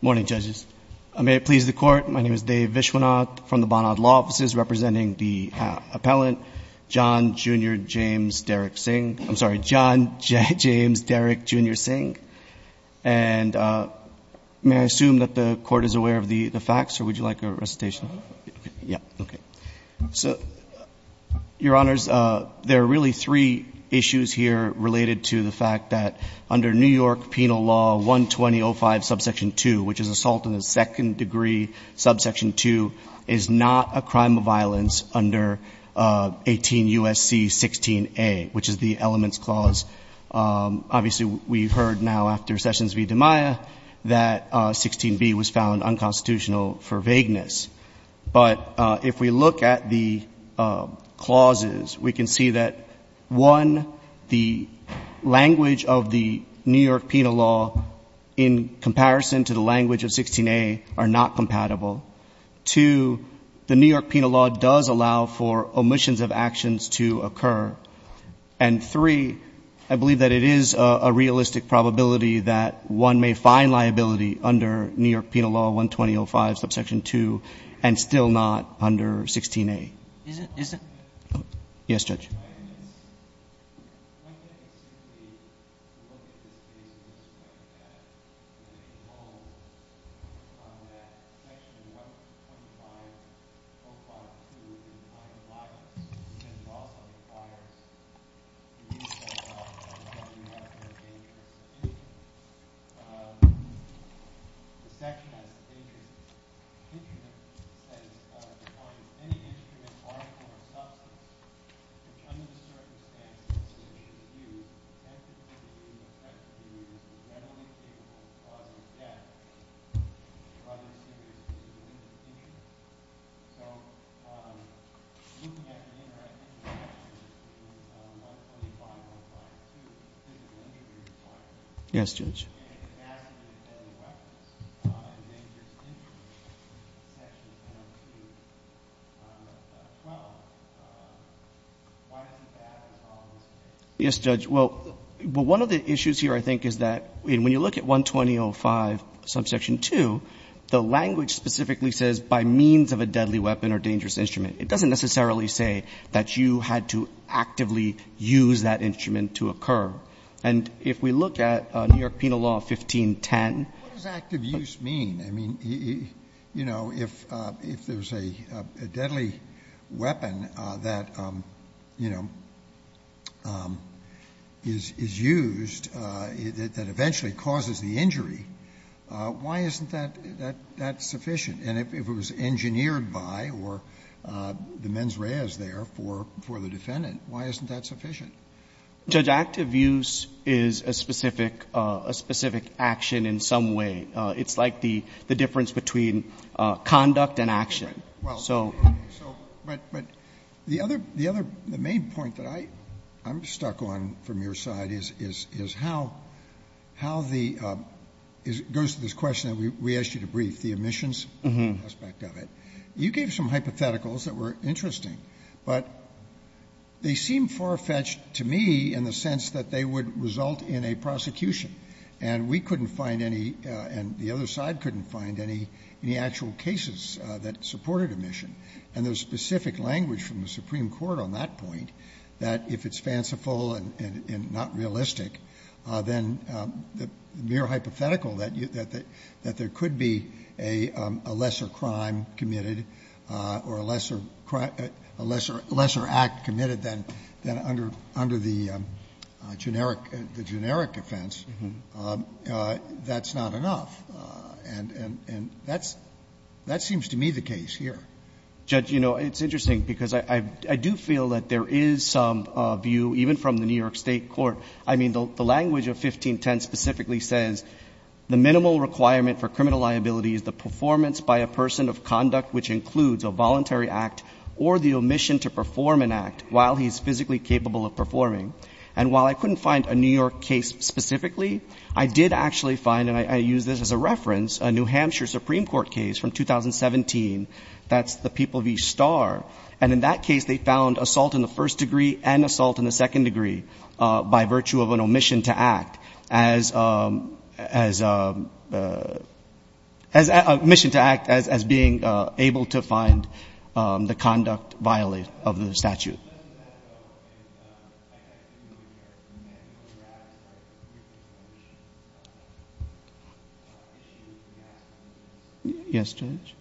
Good morning, judges. May it please the court, my name is Dave Vishwanath from the Bonnard Law Offices, representing the appellant John Jr. James Derrick, Jr. Singh. And may I assume that the court is aware of the facts? Or would you like a recitation? Yeah, okay. So, your honors, there are really three issues here related to the fact that under New York penal law 120.05, subsection 2, which is assault in the second degree, subsection 2, is not a crime of violence under 18 U.S.C. 16A, which is the elements clause. Obviously, we heard now after Sessions v. DiMaia that 16B was found unconstitutional for vagueness. But if we look at the clauses, we can see that, one, the language of the New York penal law, in comparison to the language of 16A, are not compatible. Two, the New York penal law does allow for omissions of actions to occur. And three, I believe that it is a realistic probability that one may find liability under New York penal law 120.05, subsection 2, and still not under 16A. Is it? Yes, Judge. My question is, when can we simply look at this case in this way, that there is a clause on that section 125.05.2, which is not a crime of violence, because it also requires the New York penal law to allow you to have no dangerous instrument. The section has the case, the instrument says, defines any instrument, article, or substance which, under the circumstances in which it should be used, has to be used, effectively used, and readily capable of causing death to other citizens who are in danger. So, looking at the interaction between 125.05.2 and 120.05, subsection 2, the language specifically says, by means of a deadly weapon or dangerous instrument. It doesn't necessarily say that you had to actively use that instrument to occur. It says, by means of a deadly weapon or dangerous And if we look at New York penal law 1510 What does active use mean? I mean, you know, if there's a deadly weapon that, you know, is used, that eventually causes the injury, why isn't that sufficient? And if it was engineered by or the mens rea is there for the defendant, why isn't that sufficient? Judge, active use is a specific action in some way. It's like the difference between conduct and action. But the other main point that I'm stuck on from your side is how the, it goes to this question that we asked you to brief, the omissions aspect of it. You gave some hypotheticals that were interesting, but they seem far-fetched to me in the sense that they would result in a prosecution. And we couldn't find any, and the other side couldn't find any actual cases that supported omission. And there's specific language from the Supreme Court on that point, that if it's fanciful and not realistic, then the hypothetical that there could be a lesser crime committed or a lesser act committed than under the generic offense, that's not enough. And that seems to me the case here. Judge, you know, it's interesting because I do feel that there is some view, even from the New York State court, I mean, the language of 1510 specifically says, the minimal requirement for criminal liability is the performance by a person of conduct which includes a voluntary act or the omission to perform an act while he's physically capable of performing. And while I couldn't find a New York case specifically, I did actually find, and I use this as a reference, a New Hampshire Supreme Court case from 2017. That's the People v. Starr. And in that case, they found assault in the first degree and assault in the second degree by virtue of an omission to act as being able to find the conduct violated of the statute. Yes, Judge.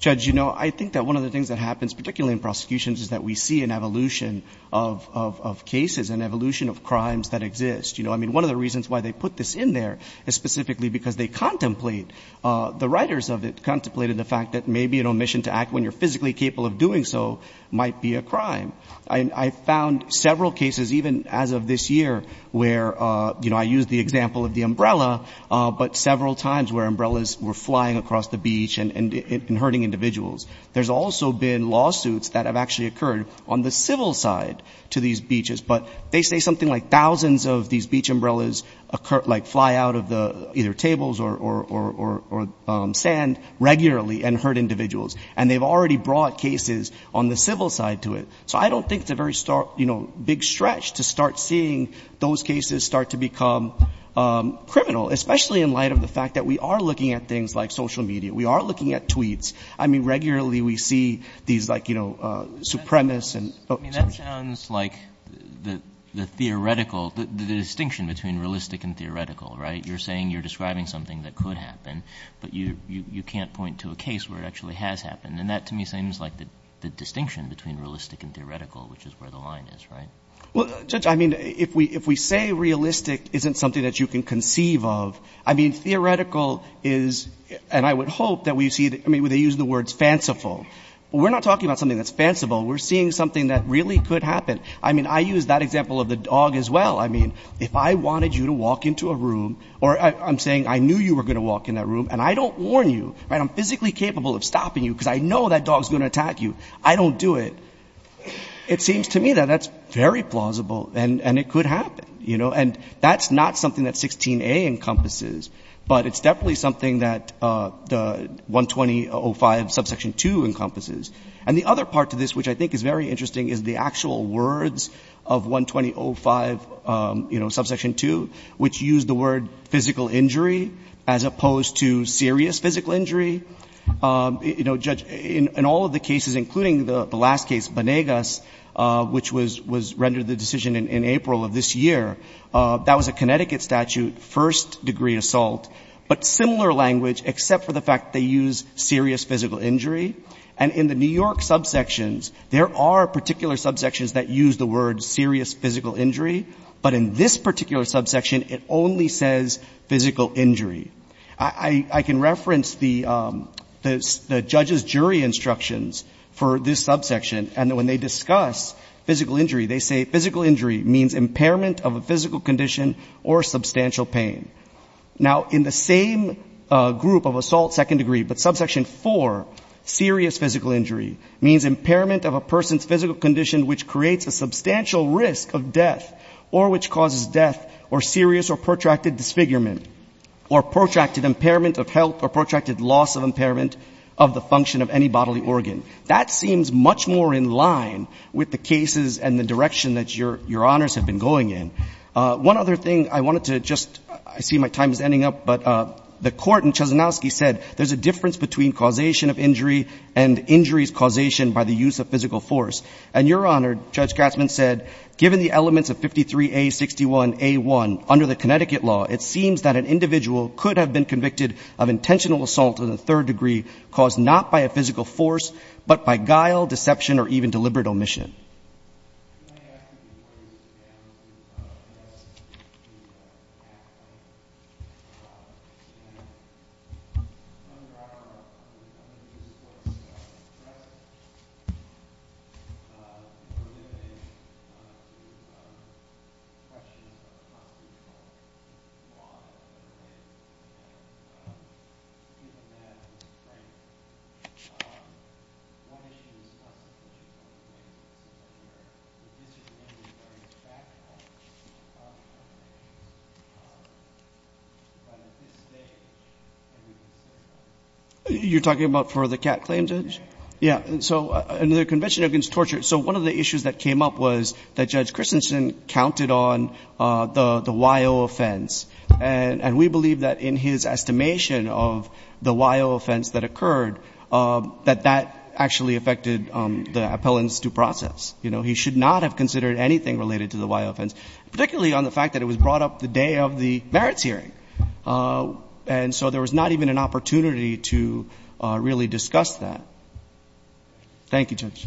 Judge, you know, I think that one of the things that happens, particularly in prosecutions, is that we see an evolution of cases, an evolution of crimes that exist. You know, I mean, one of the reasons why they put this in there is specifically because they contemplate, the writers of it contemplated the fact that maybe an omission to act when you're physically capable of doing so might be a crime. I found several cases, even as of this year, where, you know, I used the example of the umbrella, but several times where umbrellas were flying across the beach and hurting individuals. There's also been lawsuits that have actually occurred on the civil side to these beaches. But they say something like thousands of these beach umbrellas like fly out of either tables or sand regularly and hurt individuals. And they've already brought cases on the civil side to it. So I don't think it's a very big stretch to start seeing those cases start to become criminal, especially in light of the fact that we are looking at things like social media. We are looking at tweets. I mean, regularly we see these, like, you know, supremacists. I mean, that sounds like the theoretical, the distinction between realistic and theoretical, right? You're saying you're describing something that could happen, but you can't point to a case where it actually has happened. And that, to me, seems like the distinction between realistic and theoretical, which is where the line is, right? Well, Judge, I mean, if we say realistic isn't something that you can conceive of, I mean, theoretical is, and I would hope that we see, I mean, they use the words fanciful. We're not talking about something that's fanciful. We're seeing something that really could happen. I mean, I use that example of the dog as well. I mean, if I wanted you to walk into a room, or I'm saying I knew you were going to walk in that room, and I don't warn you, right, I'm physically capable of stopping you because I know that dog's going to attack you, I don't do it, it seems to me that that's very plausible, and it could happen, you know? And that's not something that 16a encompasses, but it's definitely something that the 120.05, subsection 2 encompasses. And the other part to this which I think is very interesting is the actual words of 120.05, you know, subsection 2, which use the word physical injury as opposed to serious physical injury. You know, Judge, in all of the cases, including the last case, Banegas, which was rendered the decision in April of this year, that was a Connecticut statute, first-degree assault, but similar language, except for the fact they use serious physical injury. And in the New York subsections, there are particular subsections that use the word serious physical injury, but in this particular subsection, it only says physical injury. I can reference the judge's jury instructions for this subsection, and when they discuss physical injury, they say physical injury means impairment of a physical condition or substantial pain. Now, in the same group of assault second-degree, but subsection 4, serious physical injury means impairment of a person's physical condition which creates a substantial risk of death or which causes death or serious or protracted disfigurement or protracted impairment of health or protracted loss of impairment of the function of any bodily organ. And that seems much more in line with the cases and the direction that your honors have been going in. One other thing I wanted to just, I see my time is ending up, but the court in Chesanowski said there's a difference between causation of injury and injuries causation by the use of physical force. And your honor, Judge Gatzman said, given the elements of 53A61A1 under the Connecticut law, it seems that an individual could have been injured, but by guile, deception or even deliberate omission. You're talking about for the CAT claim, Judge? Yeah. So under the Convention Against Torture, so one of the issues that came up was that Judge Christensen counted on the WIO offense. And we believe that in his estimation of the WIO offense that occurred, that that actually affected the appellant's due process. You know, he should not have considered anything related to the WIO offense, particularly on the fact that it was brought up the day of the merits hearing. And so there was not even an opportunity to really discuss that. Thank you, Judge.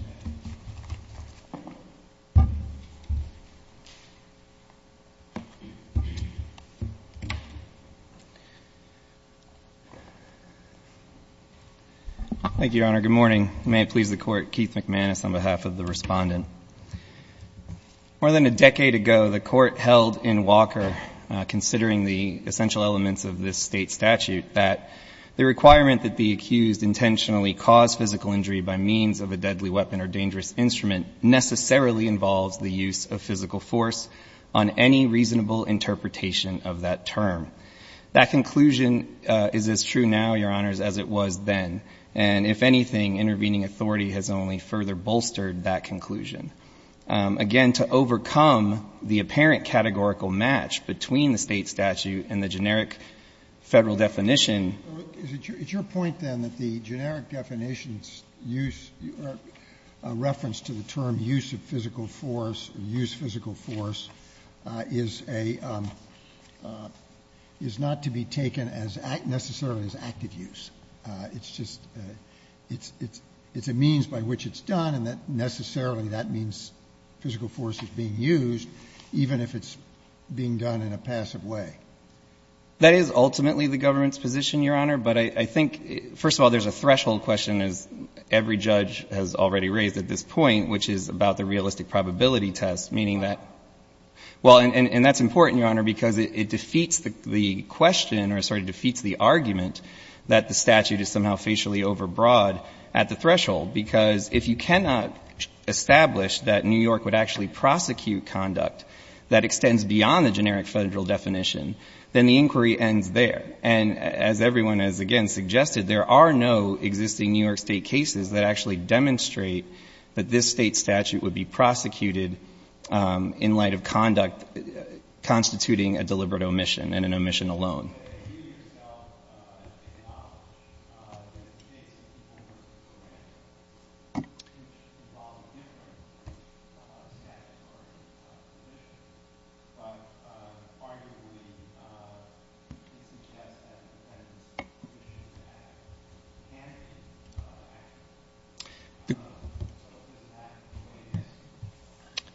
Thank you, Your Honor. Good morning. May it please the Court. Keith McManus on behalf of the Respondent. More than a decade ago, the Court held in Walker, considering the essential elements of this State statute, that the requirement that the accused intentionally cause physical injury by means of a deadly weapon or dangerous instrument necessarily involves the use of physical force on any reasonable interpretation of that term. That conclusion is as true now, Your Honors, as it was then. And if anything, intervening authority has only further bolstered that conclusion. Again, to overcome the apparent categorical match between the State statute and the generic Federal definition. It's your point, then, that the generic definition's use or reference to the term use of physical force, or use physical force, is a, is not to be taken as necessarily as active use. It's just, it's a means by which it's done, and that necessarily that means physical force is being used, even if it's being done in a passive way. That is ultimately the government's position, Your Honor. But I think, first of all, there's a threshold question, as every judge has already raised at this point, which is about the realistic probability test, meaning that. Well, and that's important, Your Honor, because it defeats the question, or sorry, defeats the argument that the statute is somehow facially overbroad at the threshold. Because if you cannot establish that New York would actually prosecute conduct that extends beyond the generic Federal definition, then the inquiry ends there. And as everyone has, again, suggested, there are no existing New York State cases that actually demonstrate that this State statute would be prosecuted in light of conduct constituting a deliberate omission and an omission alone. You yourself acknowledge that in the case of the Full Mercer Program, which involved a different statute or position, but arguably, it suggests that the Defendant's Prohibitions Act can be active. So does that weigh this?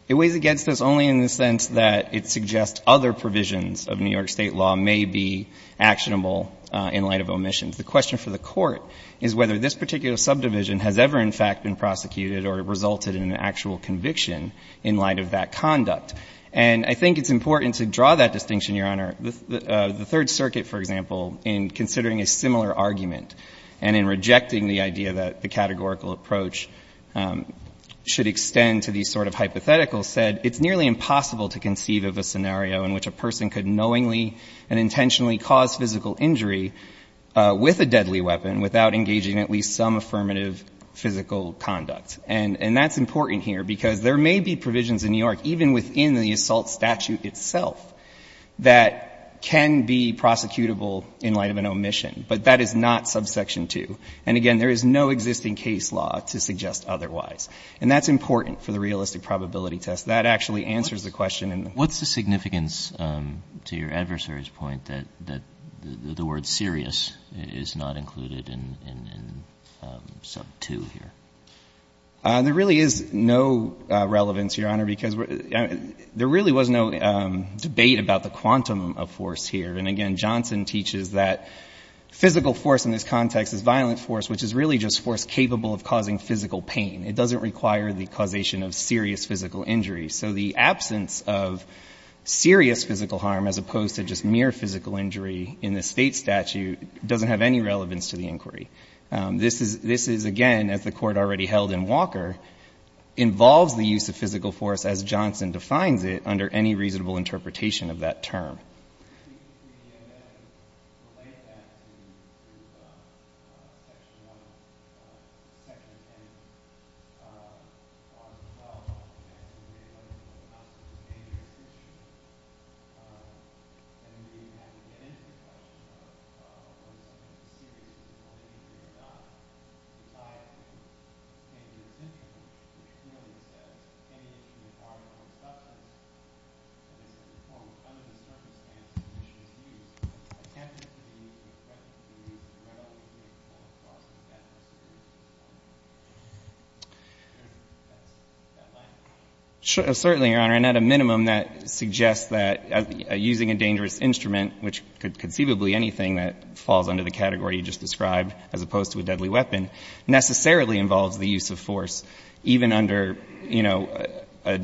It weighs against this only in the sense that it suggests other provisions of New York State law may be actionable in light of omissions. The question for the Court is whether this particular subdivision has ever, in fact, been prosecuted or resulted in an actual conviction in light of that conduct. And I think it's important to draw that distinction, Your Honor. The Third Circuit, for example, in considering a similar argument and in rejecting the idea that the categorical approach should extend to these sort of hypotheticals said it's nearly impossible to conceive of a scenario in which a person could knowingly and intentionally cause physical injury with a deadly weapon without engaging at least some affirmative physical conduct. And that's important here because there may be provisions in New York, even within the assault statute itself, that can be prosecutable in light of an omission. But that is not subsection 2. And again, there is no existing case law to suggest otherwise. And that's important for the realistic probability test. That actually answers the question in the Court. What's the significance to your adversary's point that the word serious is not included in sub 2 here? There really is no relevance, Your Honor, because there really was no debate about the quantum of force here. And again, Johnson teaches that physical force in this context is violent force, which is really just force capable of causing physical pain. It doesn't require the causation of serious physical injury. So the absence of serious physical harm as opposed to just mere physical injury in the state statute doesn't have any relevance to the inquiry. This is, again, as the Court already held in Walker, involves the use of physical force as Johnson defines it under any reasonable interpretation of that term. We then relate that to Section 10, Part 12. And we look at the concept of dangerous injury. And we have to get into the question of whether or not the serious physical injury or not resides in dangerous injury, which clearly says any injury required under the circumstance in which it is used. It can't just be a threat to the injury. It might also be a cause of death or serious injury. That's my question. Certainly, Your Honor. And at a minimum, that suggests that using a dangerous instrument, which conceivably anything that falls under the category you just described, as opposed to a deadly weapon, necessarily involves the use of force, even under, you know, a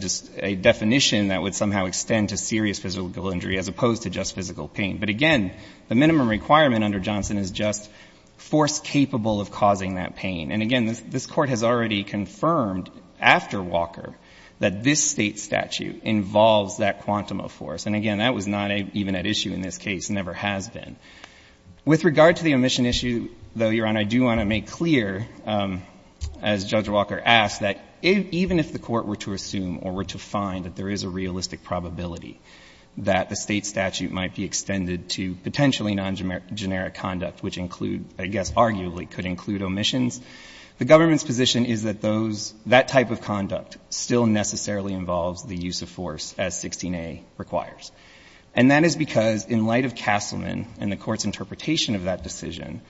definition that would somehow extend to serious physical injury as opposed to just physical pain. But, again, the minimum requirement under Johnson is just force capable of causing that pain. And, again, this Court has already confirmed after Walker that this state statute involves that quantum of force. And, again, that was not even at issue in this case and never has been. With regard to the omission issue, though, Your Honor, I do want to make clear, as Judge Walker asked, that even if the Court were to assume or were to find that there is a realistic probability that the state statute might be extended to potentially non-generic conduct, which include, I guess arguably could include omissions, the government's position is that those, that type of conduct still necessarily involves the use of force as 16a requires. And that is because, in light of Castleman and the Court's interpretation of that decision,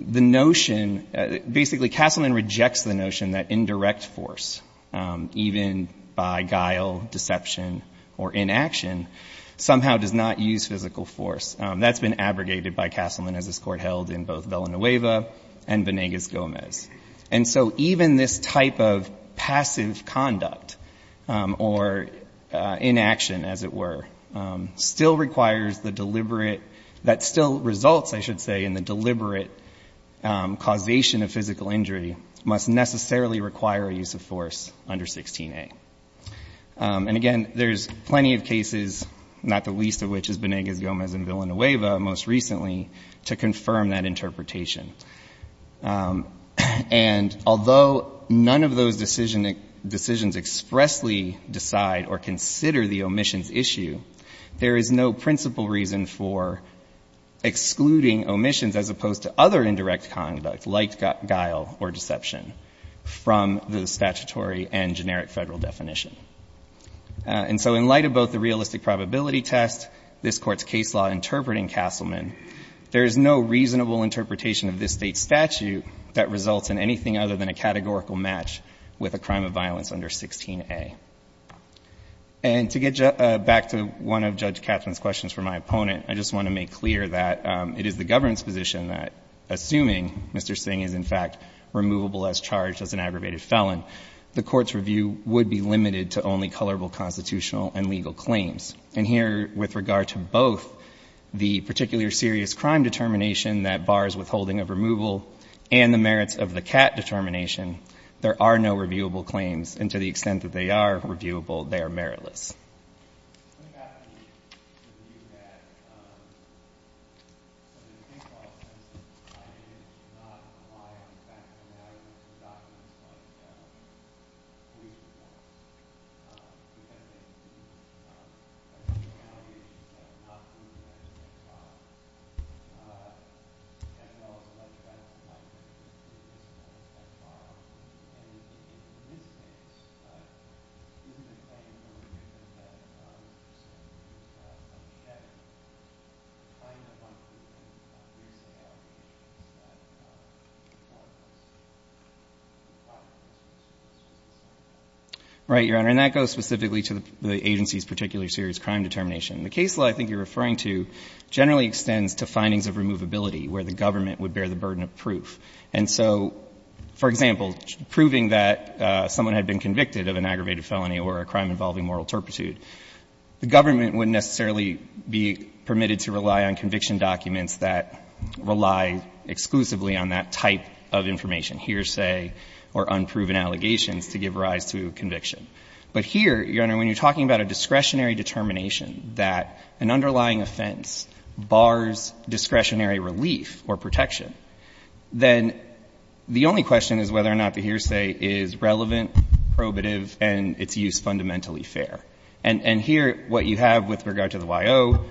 the notion, basically Castleman rejects the notion that indirect force, even by guile, deception, or inaction, somehow does not use physical force. That's been abrogated by Castleman, as this Court held in both Villanueva and Venegas-Gomez. And so even this type of passive conduct or inaction, as it were, does not apply still requires the deliberate, that still results, I should say, in the deliberate causation of physical injury, must necessarily require a use of force under 16a. And again, there's plenty of cases, not the least of which is Venegas-Gomez and Villanueva, most recently, to confirm that interpretation. And although none of those decisions expressly decide or consider the omissions issue, there is no principal reason for excluding omissions, as opposed to other indirect conduct, like guile or deception, from the statutory and generic Federal definition. And so in light of both the realistic probability test, this Court's case law interpreting Castleman, there is no reasonable interpretation of this State statute that results in anything other than a categorical match with a crime of violence under 16a. And to get back to one of Judge Katzmann's questions for my opponent, I just want to make clear that it is the government's position that, assuming Mr. Singh is, in fact, removable as charged as an aggravated felon, the Court's review would be limited to only colorable constitutional and legal claims. And here, with regard to both the particular serious crime determination that bars withholding of removal and the merits of the CAT determination, there are no reviewable claims. And to the extent that they are reviewable, they are meritless. Thank you. Right, Your Honor. And that goes specifically to the agency's particular serious crime determination. The case law I think you're referring to generally extends to findings of removability where the government would bear the burden of proof. And so, for example, proving that someone had been convicted of an aggravated felony or a crime involving moral turpitude, the government wouldn't necessarily be permitted to rely on conviction documents that rely exclusively on that type of information, hearsay or unproven allegations, to give rise to conviction. But here, Your Honor, when you're talking about a discretionary determination that an underlying offense bars discretionary relief or protection, then the only question is whether or not the hearsay is relevant, probative and its use fundamentally fair. And here, what you have with regard to the Y.O.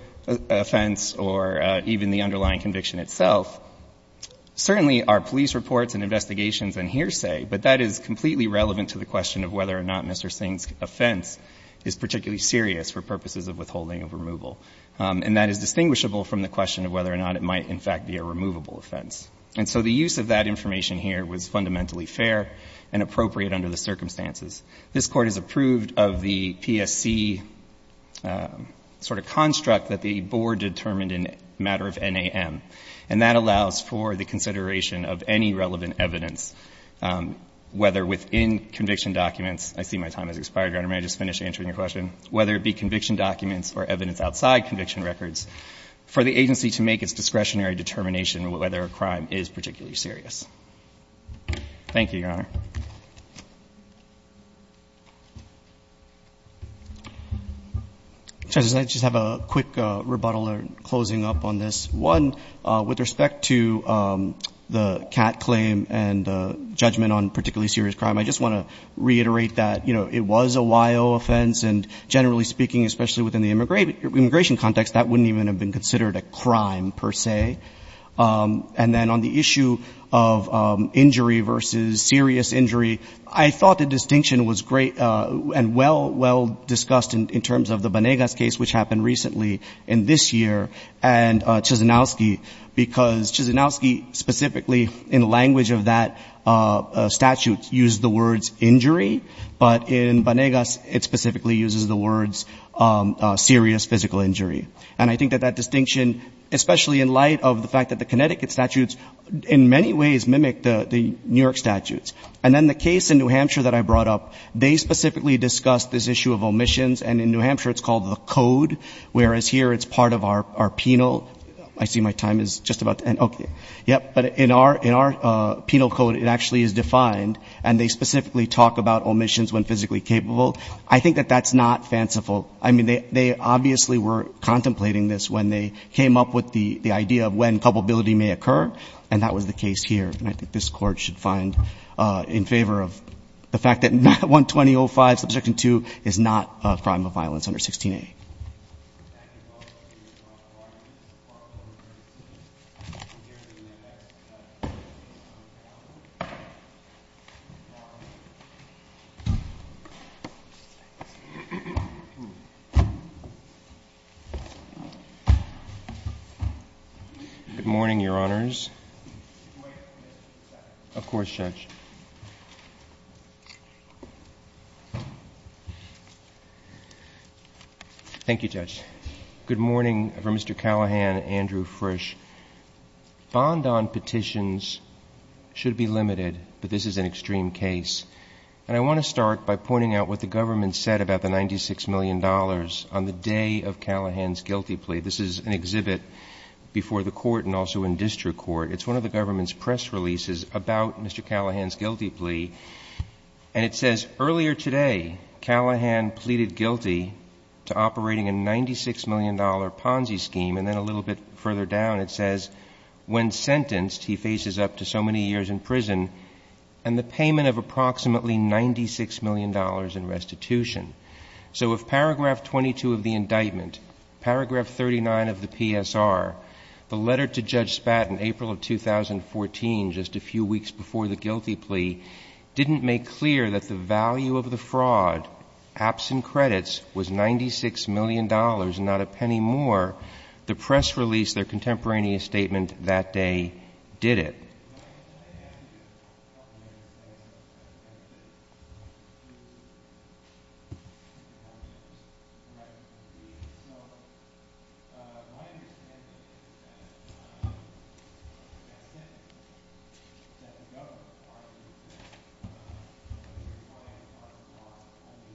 offense or even the underlying conviction itself, certainly are police reports and investigations and hearsay. But that is completely relevant to the question of whether or not Mr. Singh's offense is particularly serious for purposes of withholding of removal. And that is distinguishable from the question of whether or not it might, in fact, be a removable offense. And so the use of that information here was fundamentally fair and appropriate under the circumstances. This Court has approved of the PSC sort of construct that the Board determined in a matter of NAM. And that allows for the consideration of any relevant evidence, whether within conviction documents. I see my time has expired, Your Honor. May I just finish answering your question? Whether it be conviction documents or evidence outside conviction records, for the crime is particularly serious. Thank you, Your Honor. Justice, can I just have a quick rebuttal or closing up on this? One, with respect to the Catt claim and the judgment on particularly serious crime, I just want to reiterate that, you know, it was a Y.O. offense. And generally speaking, especially within the immigration context, that wouldn't even have been considered a crime per se. And then on the issue of injury versus serious injury, I thought the distinction was great and well, well discussed in terms of the Banegas case, which happened recently in this year, and Chisinauske. Because Chisinauske specifically, in the language of that statute, used the words injury. But in Banegas, it specifically uses the words serious physical injury. And I think that that distinction, especially in light of the fact that the Connecticut statutes, in many ways, mimic the New York statutes. And then the case in New Hampshire that I brought up, they specifically discussed this issue of omissions. And in New Hampshire, it's called the code. Whereas here, it's part of our penal. I see my time is just about to end. Okay. Yep. But in our penal code, it actually is defined. And they specifically talk about omissions when physically capable. I think that that's not fanciful. I mean, they obviously were contemplating this when they came up with the idea of when culpability may occur. And that was the case here. And I think this Court should find in favor of the fact that 120.05, Subsection 2, is not a crime of violence under 16A. Thank you. Good morning, Your Honors. Of course, Judge. Thank you, Judge. Good morning from Mr. Callahan and Andrew Frisch. Bond on petitions should be limited, but this is an extreme case. And I want to start by pointing out what the government said about the $96 million on the day of Callahan's guilty plea. This is an exhibit before the Court and also in district court. It's one of the government's press releases about Mr. Callahan's guilty plea. And it says, Earlier today, Callahan pleaded guilty to operating a $96 million Ponzi scheme. And then a little bit further down, it says, When sentenced, he faces up to so many years in prison and the payment of approximately $96 million in restitution. So if Paragraph 22 of the indictment, Paragraph 39 of the PSR, the letter to Judge Spat in April of 2014, just a few weeks before the guilty plea, didn't make clear that the value of the fraud, apps and credits, was $96 million and not a penny more, the press release, their contemporaneous statement that day, did it. That's it. That's the government's part of the indictment.